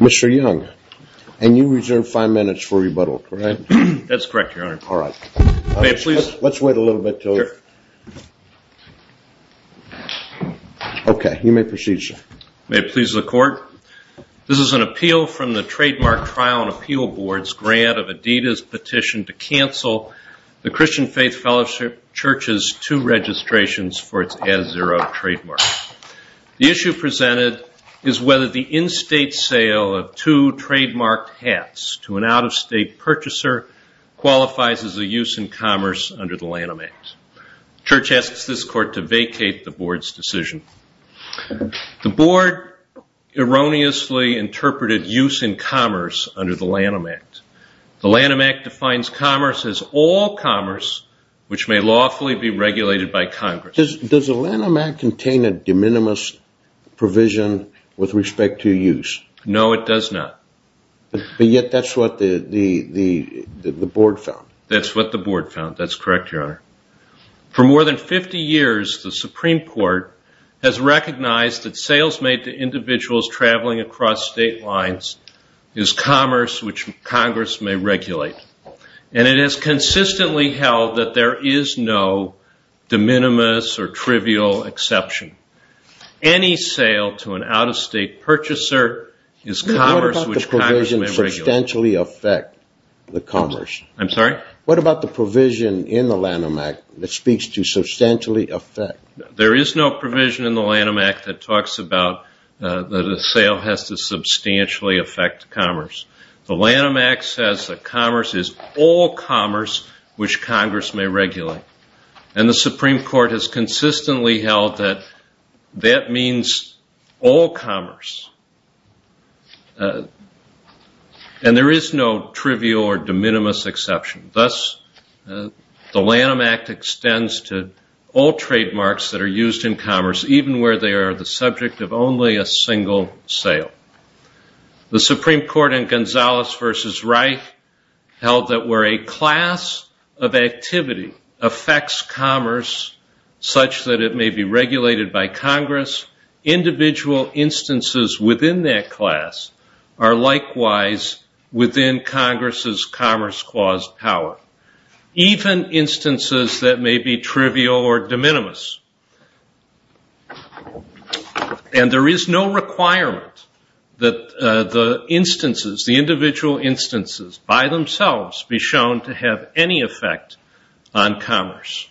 Mr. Young, and you reserve five minutes for rebuttal, correct? That's correct, Your Honor. All right. May it please... Let's wait a little bit till... Sure. Okay. You may proceed, sir. May it please the Court, this is an appeal from the Trademark Trial and Appeal Board's grant of Adidas' petition to cancel the Christian Faith Fellowship Church's two registrations for its As Zero trademark. The issue presented is whether the in-state sale of two trademarked hats to an out-of-state purchaser qualifies as a use in commerce under the Lanham Act. Church asks this Court to vacate the Board's decision. The Board erroneously interpreted use in commerce under the Lanham Act. The Lanham Act defines commerce as all commerce which may lawfully be regulated by Congress. Does the Lanham Act contain a de minimis provision with respect to use? No, it does not. But yet that's what the Board found. That's correct, Your Honor. For more than 50 years, the Supreme Court has recognized that sales made to individuals traveling across state lines is commerce which Congress may regulate. And it has consistently held that there is no de minimis or trivial exception. Any sale to an out-of-state purchaser is commerce which Congress may regulate. What about the provision substantially affect the commerce? I'm sorry? What about the provision in the Lanham Act that speaks to substantially affect? There is no provision in the Lanham Act that talks about that a sale has to substantially affect commerce. The Lanham Act says that commerce is all commerce which Congress may regulate. And the Supreme Court has consistently held that that means all commerce. And there is no trivial or de minimis exception. Thus, the Lanham Act extends to all trademarks that are used in commerce, even where they are the subject of only a single sale. The Supreme Court in Gonzales v. Wright held that where a class of activity affects commerce such that it may be regulated by Congress, individual instances within that class are likewise within Congress's commerce clause power. Even instances that may be trivial or de minimis. And there is no requirement that the instances, the individual instances by themselves be shown to have any effect on commerce.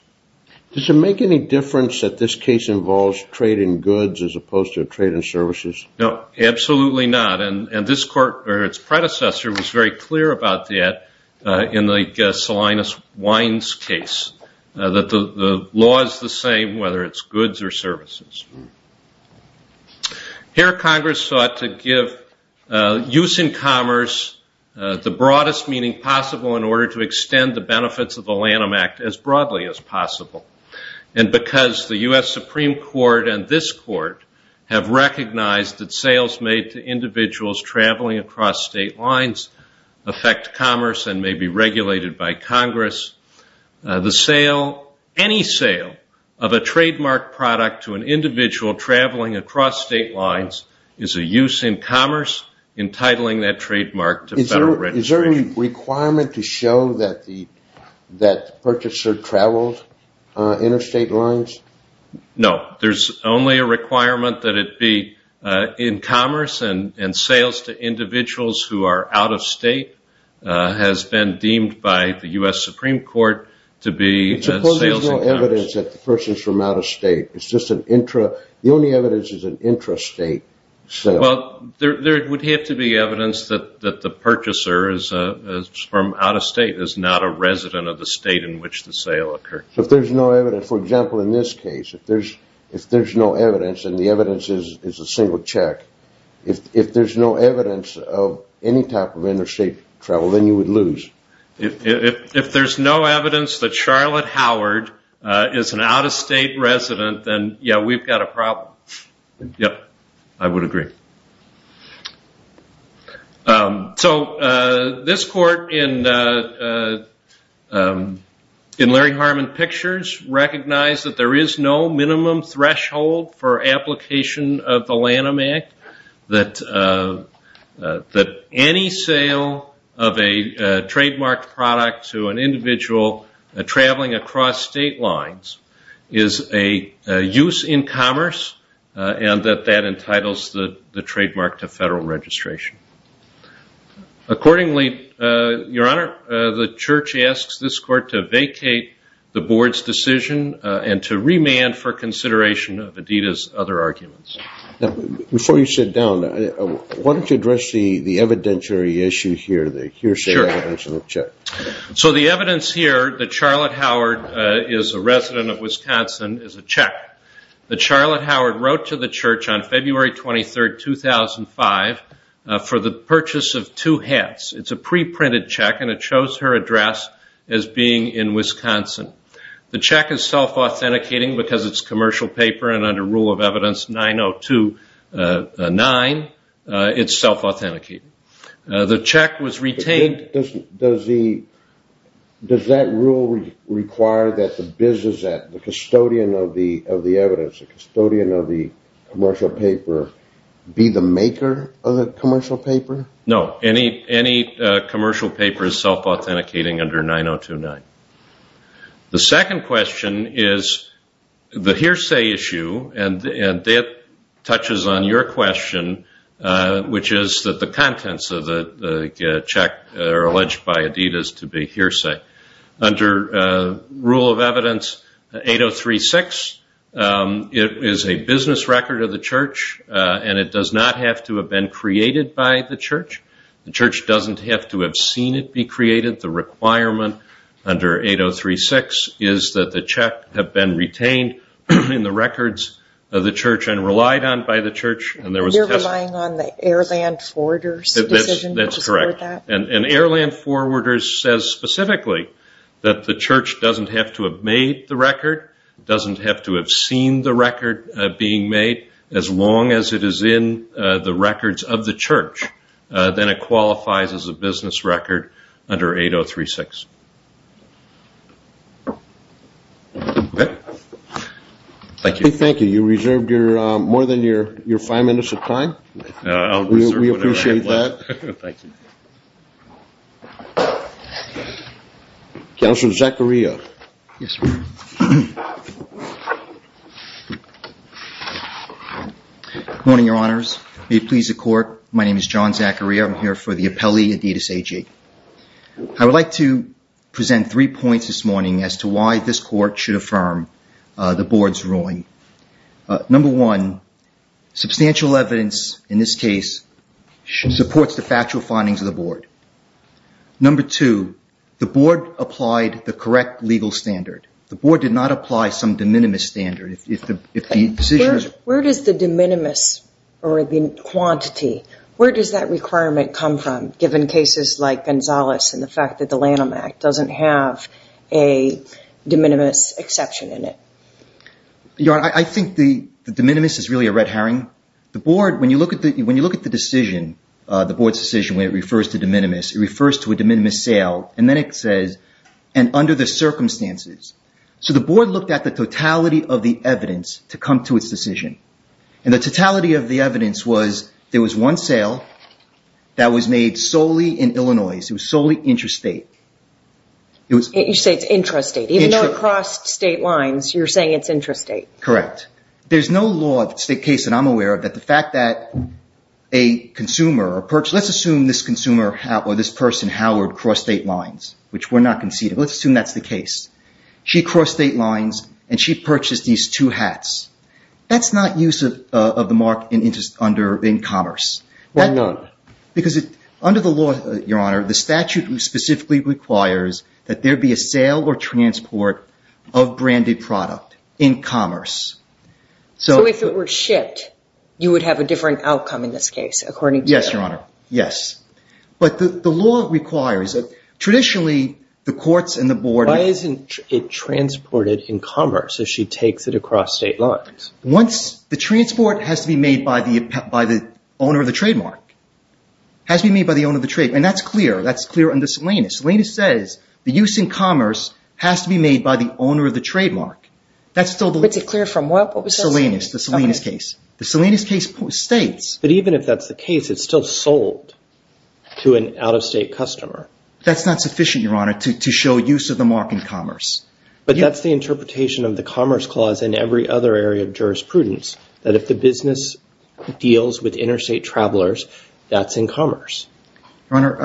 Does it make any difference that this case involves trade in goods as opposed to trade in services? No. Absolutely not. And this court or its predecessor was very clear about that in the Salinas-Wines case. That the law is the same whether it's goods or services. Here Congress sought to give use in commerce the broadest meaning possible in order to make commerce possible. And because the U.S. Supreme Court and this court have recognized that sales made to individuals traveling across state lines affect commerce and may be regulated by Congress, any sale of a trademark product to an individual traveling across state lines is a use in commerce entitling that trademark to federal registration. Is there any requirement to show that the purchaser travels interstate lines? No. There's only a requirement that it be in commerce and sales to individuals who are out of state has been deemed by the U.S. Supreme Court to be sales in commerce. There's no evidence that the person's from out of state. It's just an intra, the only evidence is an intrastate sale. Well, there would have to be evidence that the purchaser is from out of state is not a resident of the state in which the sale occurred. So if there's no evidence, for example, in this case, if there's no evidence and the evidence is a single check, if there's no evidence of any type of interstate travel, then you would lose. If there's no evidence that Charlotte Howard is an out of state resident, then yeah, we've got a problem. Yep. I would agree. Thank you. So this court in Larry Harmon Pictures recognized that there is no minimum threshold for application of the Lanham Act, that any sale of a trademarked product to an individual traveling across state lines is a use in commerce, and that that entitles the trademark to federal registration. Accordingly, Your Honor, the church asks this court to vacate the board's decision and to remand for consideration of Adita's other arguments. Now, before you sit down, why don't you address the evidentiary issue here, the hearsay evidence of the check? Sure. So the evidence here that Charlotte Howard is a resident of Wisconsin is a check that Charlotte Howard wrote to the church on February 23, 2005, for the purchase of two hats. It's a pre-printed check, and it shows her address as being in Wisconsin. The check is self-authenticating because it's commercial paper and under rule of evidence 9029, it's self-authenticating. The check was retained. Does that rule require that the business, the custodian of the evidence, the custodian of the commercial paper be the maker of the commercial paper? No. Any commercial paper is self-authenticating under 9029. The second question is the hearsay issue, and that touches on your question, which is that the contents of the check are alleged by Adita's to be hearsay. Under rule of evidence 8036, it is a business record of the church, and it does not have to have been created by the church. The church doesn't have to have seen it be created. The requirement under 8036 is that the check have been retained in the records of the church and relied on by the church. You're relying on the air land forwarders decision to support that? That's correct. An air land forwarder says specifically that the church doesn't have to have made the record, doesn't have to have seen the record being made, as long as it is in the records of the church, then it qualifies as a business record under 8036. Okay. Thank you. You reserved more than your five minutes of time. We appreciate that. Thank you. Counselor Zachariah. Yes, sir. Good morning, your honors. May it please the court. My name is John Zachariah. I'm here for the appellee Aditas AJ. I would like to present three points this morning as to why this court should affirm the board's ruling. Number one, substantial evidence in this case supports the factual findings of the board. Number two, the board applied the correct legal standard. The board did not apply some de minimis standard. Where does the de minimis or the quantity, where does that requirement come from given cases like Gonzales and the fact that the Lanham Act doesn't have a de minimis exception in it? Your honor, I think the de minimis is really a red herring. The board, when you look at the decision, the board's decision when it refers to de minimis, it refers to a de minimis sale, and then it says, and under the circumstances. The board looked at the totality of the evidence to come to its decision, and the totality of the evidence was there was one sale that was made solely in Illinois. It was solely intrastate. You say it's intrastate. Even though it crossed state lines, you're saying it's intrastate. Correct. There's no law of state case that I'm aware of that the fact that a consumer, let's assume this consumer or this person, Howard, crossed state lines, which we're not conceding. Let's assume that's the case. She crossed state lines, and she purchased these two hats. That's not use of the mark in commerce. Why not? Because under the law, your honor, the statute specifically requires that there be a sale or transport of branded product in commerce. So if it were shipped, you would have a different outcome in this case, according to the law? Yes, your honor. Yes. But the law requires it. Traditionally, the courts and the board- Once the transport has to be made by the owner of the trademark, has to be made by the owner of the trademark. And that's clear. That's clear under Salinas. Salinas says the use in commerce has to be made by the owner of the trademark. That's still the- It's clear from what? What was that? Salinas. The Salinas case. The Salinas case states- But even if that's the case, it's still sold to an out-of-state customer. That's not sufficient, your honor, to show use of the mark in commerce. But that's the interpretation of the Commerce Clause in every other area of jurisprudence, that if the business deals with interstate travelers, that's in commerce. Your honor,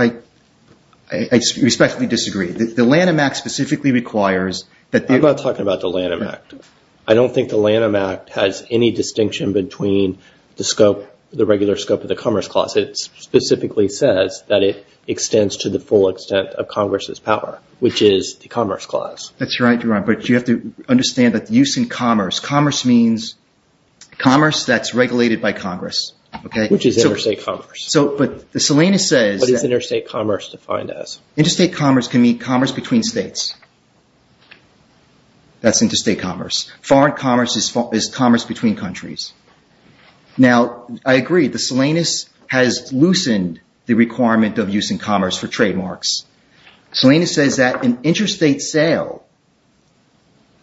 I respectfully disagree. The Lanham Act specifically requires that- I'm not talking about the Lanham Act. I don't think the Lanham Act has any distinction between the scope, the regular scope of the Commerce Clause. It specifically says that it extends to the full extent of Congress's power, which is the Commerce Clause. That's right, your honor. But you have to understand that the use in commerce, commerce means commerce that's regulated by Congress. Okay? Which is interstate commerce. So, but the Salinas says- What is interstate commerce defined as? Interstate commerce can mean commerce between states. That's interstate commerce. Foreign commerce is commerce between countries. Now, I agree. The Salinas has loosened the requirement of use in commerce for trademarks. Salinas says that an interstate sale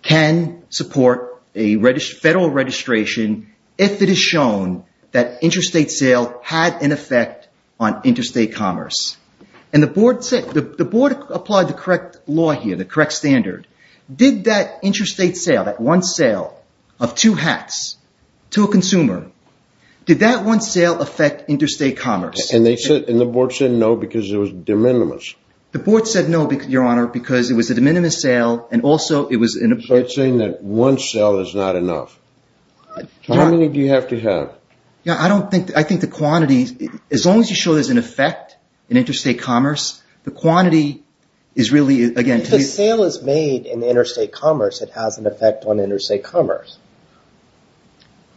can support a federal registration if it is shown that interstate sale had an effect on interstate commerce. The board applied the correct law here, the correct standard. Did that interstate sale, that one sale of two hats to a consumer, did that one sale affect interstate commerce? And they said, and the board said no, because it was de minimis. The board said no, your honor, because it was a de minimis sale, and also it was in a- So it's saying that one sale is not enough. How many do you have to have? Yeah, I don't think, I think the quantity, as long as you show there's an effect in interstate commerce, the quantity is really, again- If a sale is made in interstate commerce, it has an effect on interstate commerce.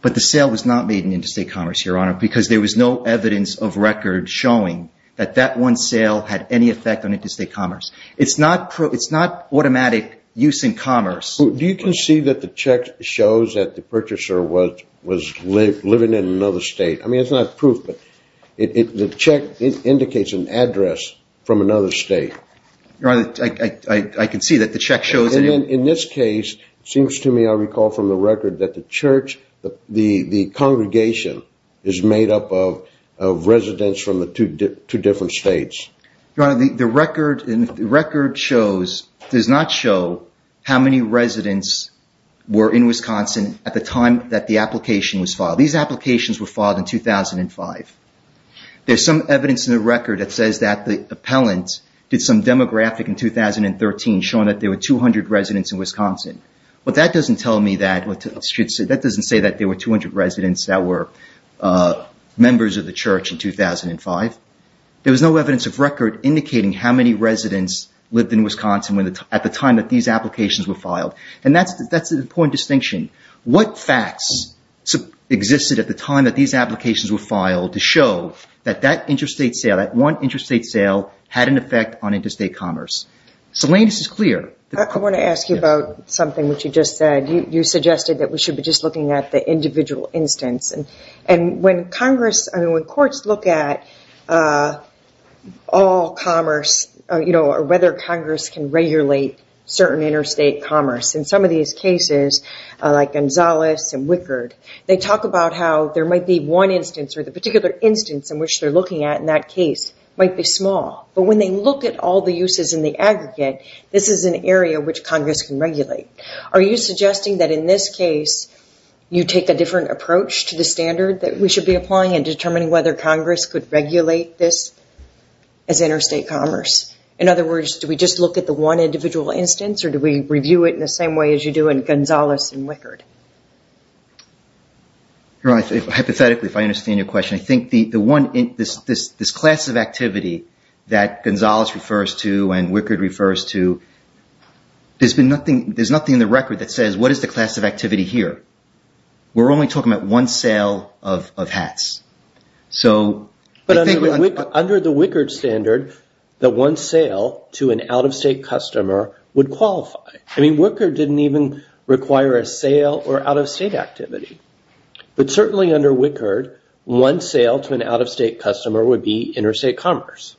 But the sale was not made in interstate commerce, your honor, because there was no evidence of record showing that that one sale had any effect on interstate commerce. It's not automatic use in commerce. Do you concede that the check shows that the purchaser was living in another state? I mean, it's not proof, but the check indicates an address from another state. Your honor, I concede that the check shows- In this case, it seems to me, I recall from the record that the church, the congregation is made up of residents from the two different states. Your honor, the record shows, does not show how many residents were in Wisconsin at the time that the application was filed. These applications were filed in 2005. There's some evidence in the record that says that the appellant did some demographic in in Wisconsin, but that doesn't tell me that, that doesn't say that there were 200 residents that were members of the church in 2005. There was no evidence of record indicating how many residents lived in Wisconsin at the time that these applications were filed, and that's an important distinction. What facts existed at the time that these applications were filed to show that that interstate sale, that one interstate sale had an effect on interstate commerce? The latest is clear. I want to ask you about something which you just said. You suggested that we should be just looking at the individual instance, and when courts look at all commerce, or whether Congress can regulate certain interstate commerce in some of these cases, like Gonzales and Wickard, they talk about how there might be one instance or the particular instance in which they're looking at in that case might be small, but when they look at all the uses in the aggregate, this is an area which Congress can regulate. Are you suggesting that in this case, you take a different approach to the standard that we should be applying in determining whether Congress could regulate this as interstate commerce? In other words, do we just look at the one individual instance, or do we review it in Hypothetically, if I understand your question, I think this class of activity that Gonzales refers to and Wickard refers to, there's nothing in the record that says, what is the class of activity here? We're only talking about one sale of hats. Under the Wickard standard, the one sale to an out-of-state customer would qualify. Wickard didn't even require a sale or out-of-state activity, but certainly under Wickard, one sale to an out-of-state customer would be interstate commerce.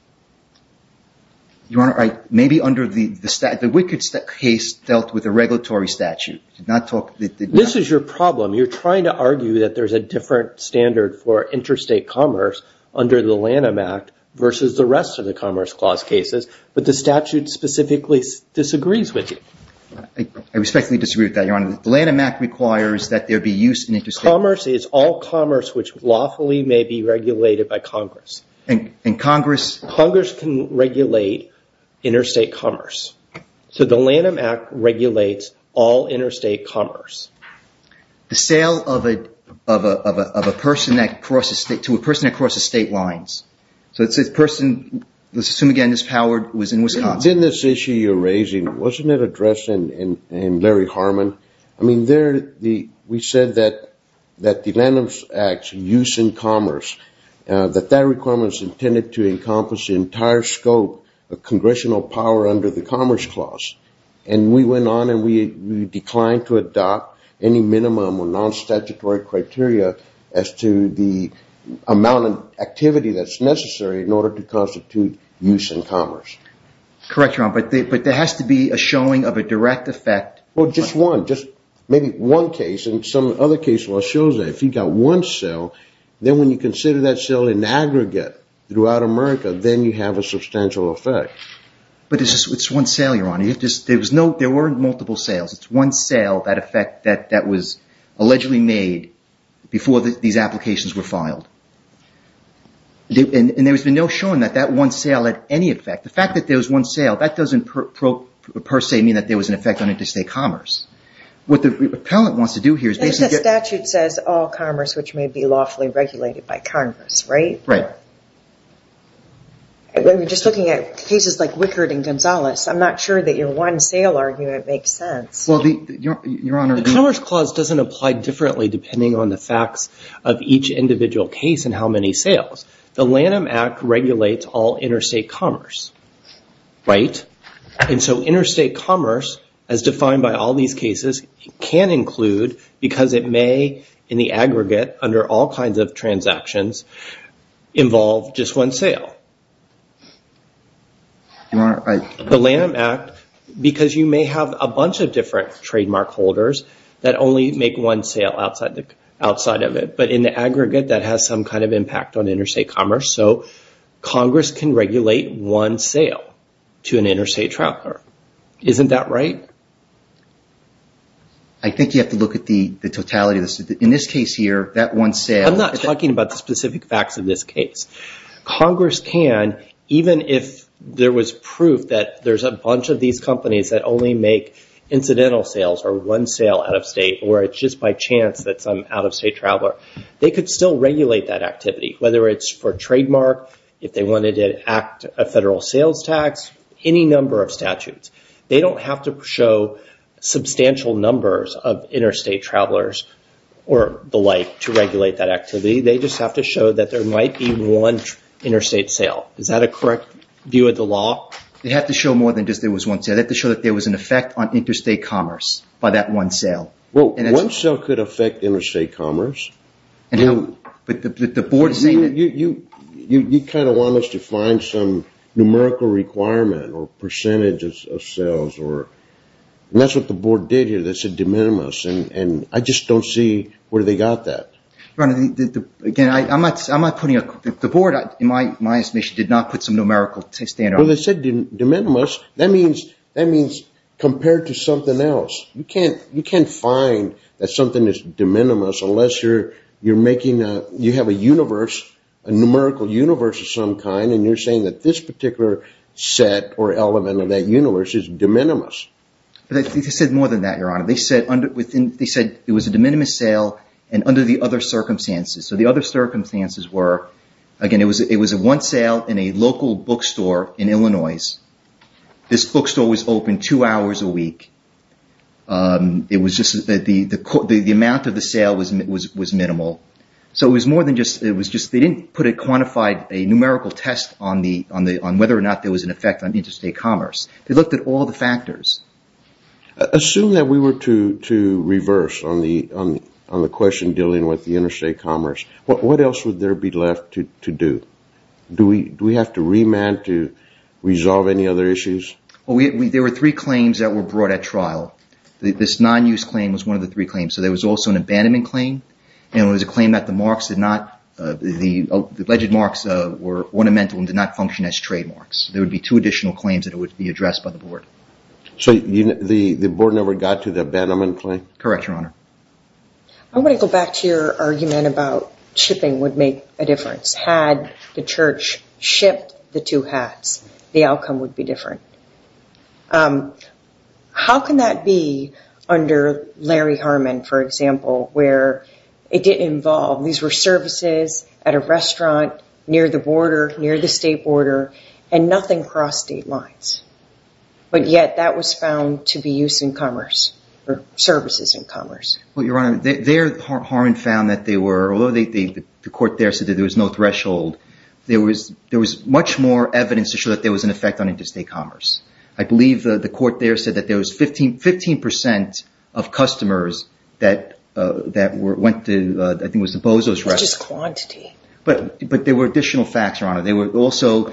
Maybe under the Wickard case dealt with a regulatory statute, did not talk... This is your problem. You're trying to argue that there's a different standard for interstate commerce under the Lanham Act versus the rest of the Commerce Clause cases, but the statute specifically disagrees with you. I respectfully disagree with that, Your Honor. The Lanham Act requires that there be use in interstate... Commerce is all commerce which lawfully may be regulated by Congress. And Congress... Congress can regulate interstate commerce. The Lanham Act regulates all interstate commerce. The sale to a person that crosses state lines, so let's assume, again, this Howard was in Wisconsin. But then this issue you're raising, wasn't it addressed in Larry Harmon? We said that the Lanham Act's use in commerce, that that requirement is intended to encompass the entire scope of congressional power under the Commerce Clause. And we went on and we declined to adopt any minimum or non-statutory criteria as to the amount of activity that's necessary in order to constitute use in commerce. Correct, Your Honor, but there has to be a showing of a direct effect... Well, just one. Just maybe one case, and some other case law shows that if you've got one sale, then when you consider that sale in aggregate throughout America, then you have a substantial effect. But it's just one sale, Your Honor. There weren't multiple sales. It's one sale, that effect, that was allegedly made before these applications were filed. And there's been no showing that that one sale had any effect. The fact that there was one sale, that doesn't per se mean that there was an effect on interstate commerce. What the appellant wants to do here is basically... The statute says all commerce which may be lawfully regulated by Congress, right? Right. When we're just looking at cases like Wickard and Gonzales, I'm not sure that your one sale argument makes sense. Well, Your Honor... The Commerce Clause doesn't apply differently depending on the facts of each individual case and how many sales. The Lanham Act regulates all interstate commerce, right? And so interstate commerce, as defined by all these cases, can include, because it may, in the aggregate, under all kinds of transactions, involve just one sale. Your Honor, I... The Lanham Act, because you may have a bunch of different trademark holders that only make one sale outside of it, but in the aggregate, that has some kind of impact on interstate commerce. So Congress can regulate one sale to an interstate traveler. Isn't that right? I think you have to look at the totality of this. In this case here, that one sale... I'm not talking about the specific facts of this case. Congress can, even if there was proof that there's a bunch of these companies that only make incidental sales or one sale out of state, or it's just by chance that some out-of-state traveler... They could still regulate that activity, whether it's for trademark, if they wanted to act a federal sales tax, any number of statutes. They don't have to show substantial numbers of interstate travelers or the like to regulate that activity. They just have to show that there might be one interstate sale. Is that a correct view of the law? They have to show more than just there was one sale. They have to show that there was an effect on interstate commerce by that one sale. Well, one sale could affect interstate commerce. The board's saying that... You kind of want us to find some numerical requirement or percentage of sales, and that's what the board did here. They said de minimis, and I just don't see where they got that. Your Honor, again, I'm not putting a... The board, in my estimation, did not put some numerical standard. Well, they said de minimis. That means compared to something else. You can't find that something is de minimis unless you're making a... You have a universe, a numerical universe of some kind, and you're saying that this particular set or element of that universe is de minimis. They said more than that, Your Honor. They said it was a de minimis sale, and under the other circumstances. The other circumstances were, again, it was one sale in a local bookstore in Illinois. This bookstore was open two hours a week. It was just that the amount of the sale was minimal, so it was more than just... It was just they didn't put a quantified numerical test on whether or not there was an effect They looked at all the factors. Assume that we were to reverse on the question dealing with the interstate commerce. What else would there be left to do? Do we have to remand to resolve any other issues? There were three claims that were brought at trial. This non-use claim was one of the three claims, so there was also an abandonment claim, and it was a claim that the alleged marks were ornamental and did not function as trademarks. There would be two additional claims that would be addressed by the board. The board never got to the abandonment claim? Correct, Your Honor. I want to go back to your argument about shipping would make a difference. Had the church shipped the two hats, the outcome would be different. How can that be under Larry Harmon, for example, where it didn't involve... near the border, near the state border, and nothing crossed state lines, but yet that was found to be used in commerce, or services in commerce? Your Honor, there, Harmon found that they were, although the court there said that there was no threshold, there was much more evidence to show that there was an effect on interstate commerce. I believe the court there said that there was 15% of customers that went to, I think it was the Bozo's restaurant. It was just quantity. But there were additional facts, Your Honor. There were also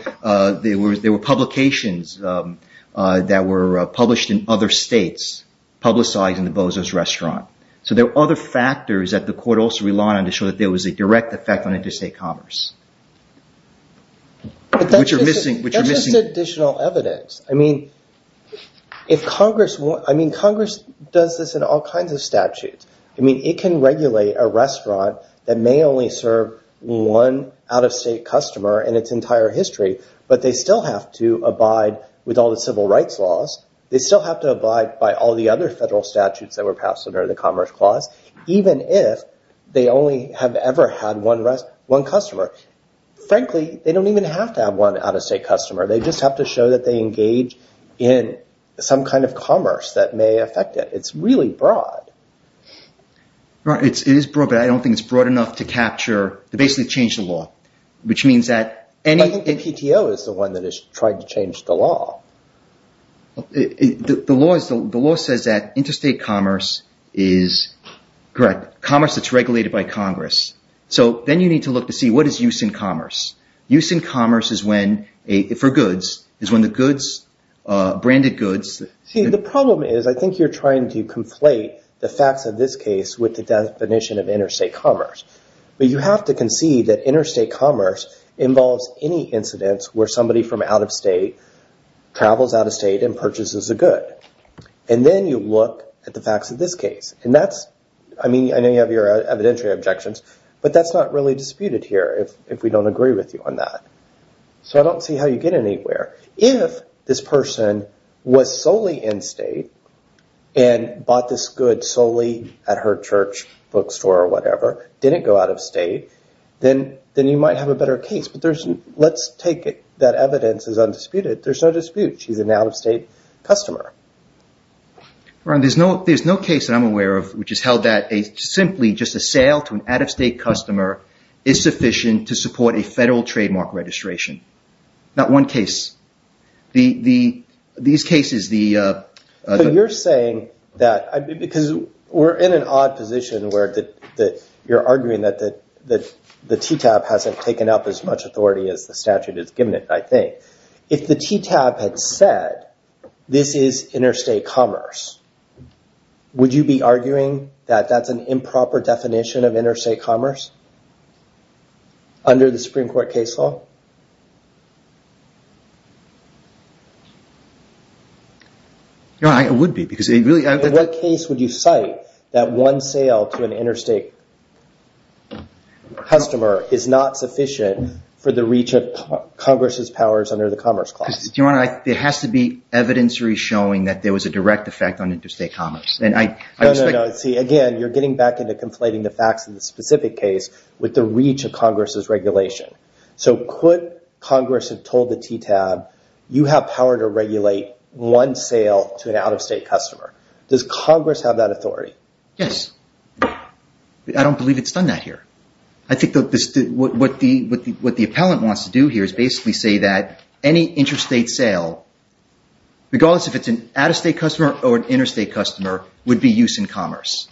publications that were published in other states, publicizing the Bozo's restaurant. So there were other factors that the court also relied on to show that there was a direct effect on interstate commerce, which are missing... That's just additional evidence. Congress does this in all kinds of statutes. I mean, it can regulate a restaurant that may only serve one out-of-state customer in its entire history, but they still have to abide with all the civil rights laws. They still have to abide by all the other federal statutes that were passed under the Commerce Clause, even if they only have ever had one customer. Frankly, they don't even have to have one out-of-state customer. They just have to show that they engage in some kind of commerce that may affect it. It's really broad. It is broad, but I don't think it's broad enough to basically change the law, which means that... I think the PTO is the one that is trying to change the law. The law says that interstate commerce is commerce that's regulated by Congress. So then you need to look to see what is use in commerce. Use in commerce is when, for goods, is when the goods, branded goods... See, the problem is, I think you're trying to conflate the facts of this case with the definition of interstate commerce, but you have to concede that interstate commerce involves any incidents where somebody from out-of-state travels out-of-state and purchases a good. And then you look at the facts of this case, and that's... I mean, I know you have your evidentiary objections, but that's not really disputed here if we don't agree with you on that. So I don't see how you get anywhere. If this person was solely in-state and bought this good solely at her church, bookstore, or whatever, didn't go out-of-state, then you might have a better case. Let's take it that evidence is undisputed. There's no dispute. She's an out-of-state customer. Ron, there's no case that I'm aware of which is held that simply just a sale to an out-of-state customer is sufficient to support a federal trademark registration. Not one case. These cases, the... But you're saying that... Because we're in an odd position where you're arguing that the TTAP hasn't taken up as much authority as the statute has given it, I think. If the TTAP had said, this is interstate commerce, would you be arguing that that's an improper definition of interstate commerce under the Supreme Court case law? No, I would be, because it really... In what case would you cite that one sale to an interstate customer is not sufficient for the reach of Congress's powers under the Commerce Clause? Do you want to... It has to be evidencery showing that there was a direct effect on interstate commerce. And I... No, no, no. But see, again, you're getting back into conflating the facts in the specific case with the reach of Congress's regulation. So could Congress have told the TTAP, you have power to regulate one sale to an out-of-state customer. Does Congress have that authority? Yes. I don't believe it's done that here. I think what the appellant wants to do here is basically say that any interstate sale, regardless if it's an out-of-state customer or an interstate customer, would be used in commerce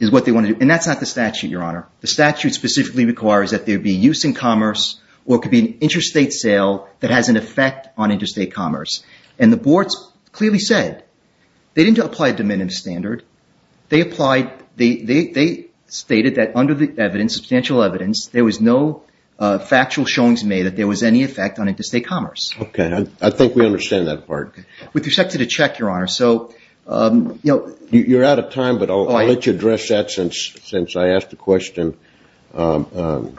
is what they want to do. And that's not the statute, Your Honor. The statute specifically requires that there be use in commerce or it could be an interstate sale that has an effect on interstate commerce. And the boards clearly said they didn't apply a diminutive standard. They applied... They stated that under the evidence, substantial evidence, there was no factual showings made that there was any effect on interstate commerce. Okay. I think we understand that part. Okay. With respect to the check, Your Honor, so... You're out of time, but I'll let you address that since I asked the question to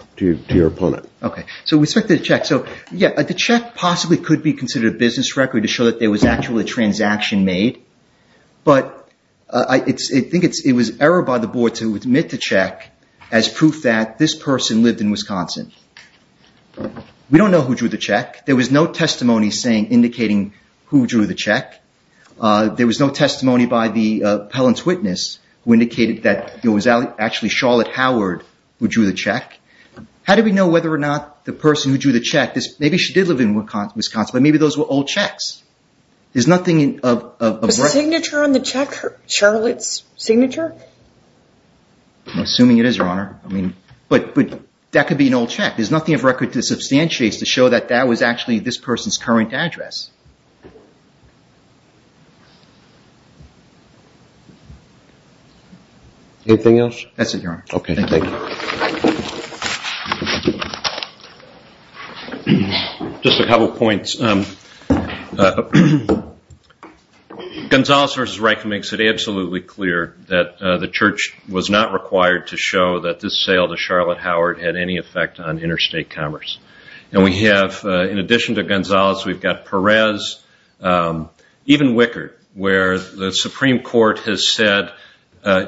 your opponent. Okay. So with respect to the check, so yeah, the check possibly could be considered a business record to show that there was actually a transaction made. But I think it was error by the board to admit the check as proof that this person lived in Wisconsin. We don't know who drew the check. There was no testimony indicating who drew the check. There was no testimony by the appellant's witness who indicated that it was actually Charlotte Howard who drew the check. How do we know whether or not the person who drew the check... Maybe she did live in Wisconsin, but maybe those were old checks. There's nothing of... Was the signature on the check Charlotte's signature? I'm assuming it is, Your Honor. But that could be an old check. There's nothing of record to substantiate to show that that was actually this person's current address. Anything else? That's it, Your Honor. Okay. Thank you. Just a couple of points. Gonzales versus Reich makes it absolutely clear that the church was not required to have any effect on interstate commerce. In addition to Gonzales, we've got Perez, even Wickard, where the Supreme Court has said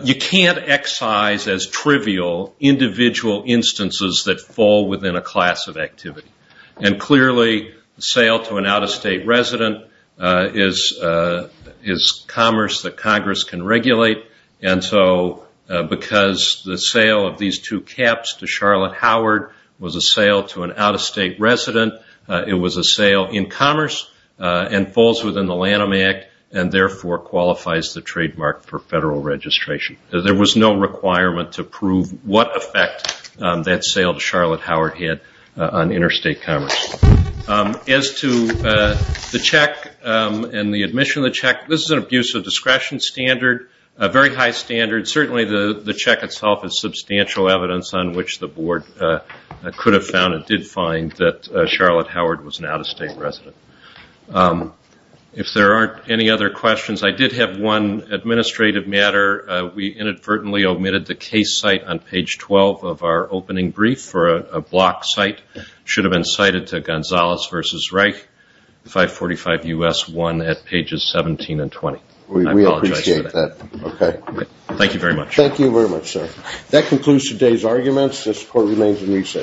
you can't excise as trivial individual instances that fall within a class of activity. Clearly, sale to an out-of-state resident is commerce that Congress can regulate. Because the sale of these two caps to Charlotte Howard was a sale to an out-of-state resident, it was a sale in commerce and falls within the Lanham Act and therefore qualifies the trademark for federal registration. There was no requirement to prove what effect that sale to Charlotte Howard had on interstate commerce. As to the check and the admission of the check, this is an abuse of discretion standard. A very high standard. Certainly, the check itself is substantial evidence on which the Board could have found and did find that Charlotte Howard was an out-of-state resident. If there aren't any other questions, I did have one administrative matter. We inadvertently omitted the case site on page 12 of our opening brief for a block site. Should have been cited to Gonzales versus Reich, 545 U.S. 1 at pages 17 and 20. We apologize for that. We appreciate that. Okay. Thank you very much. Thank you very much, sir. That concludes today's arguments. This court remains in recess.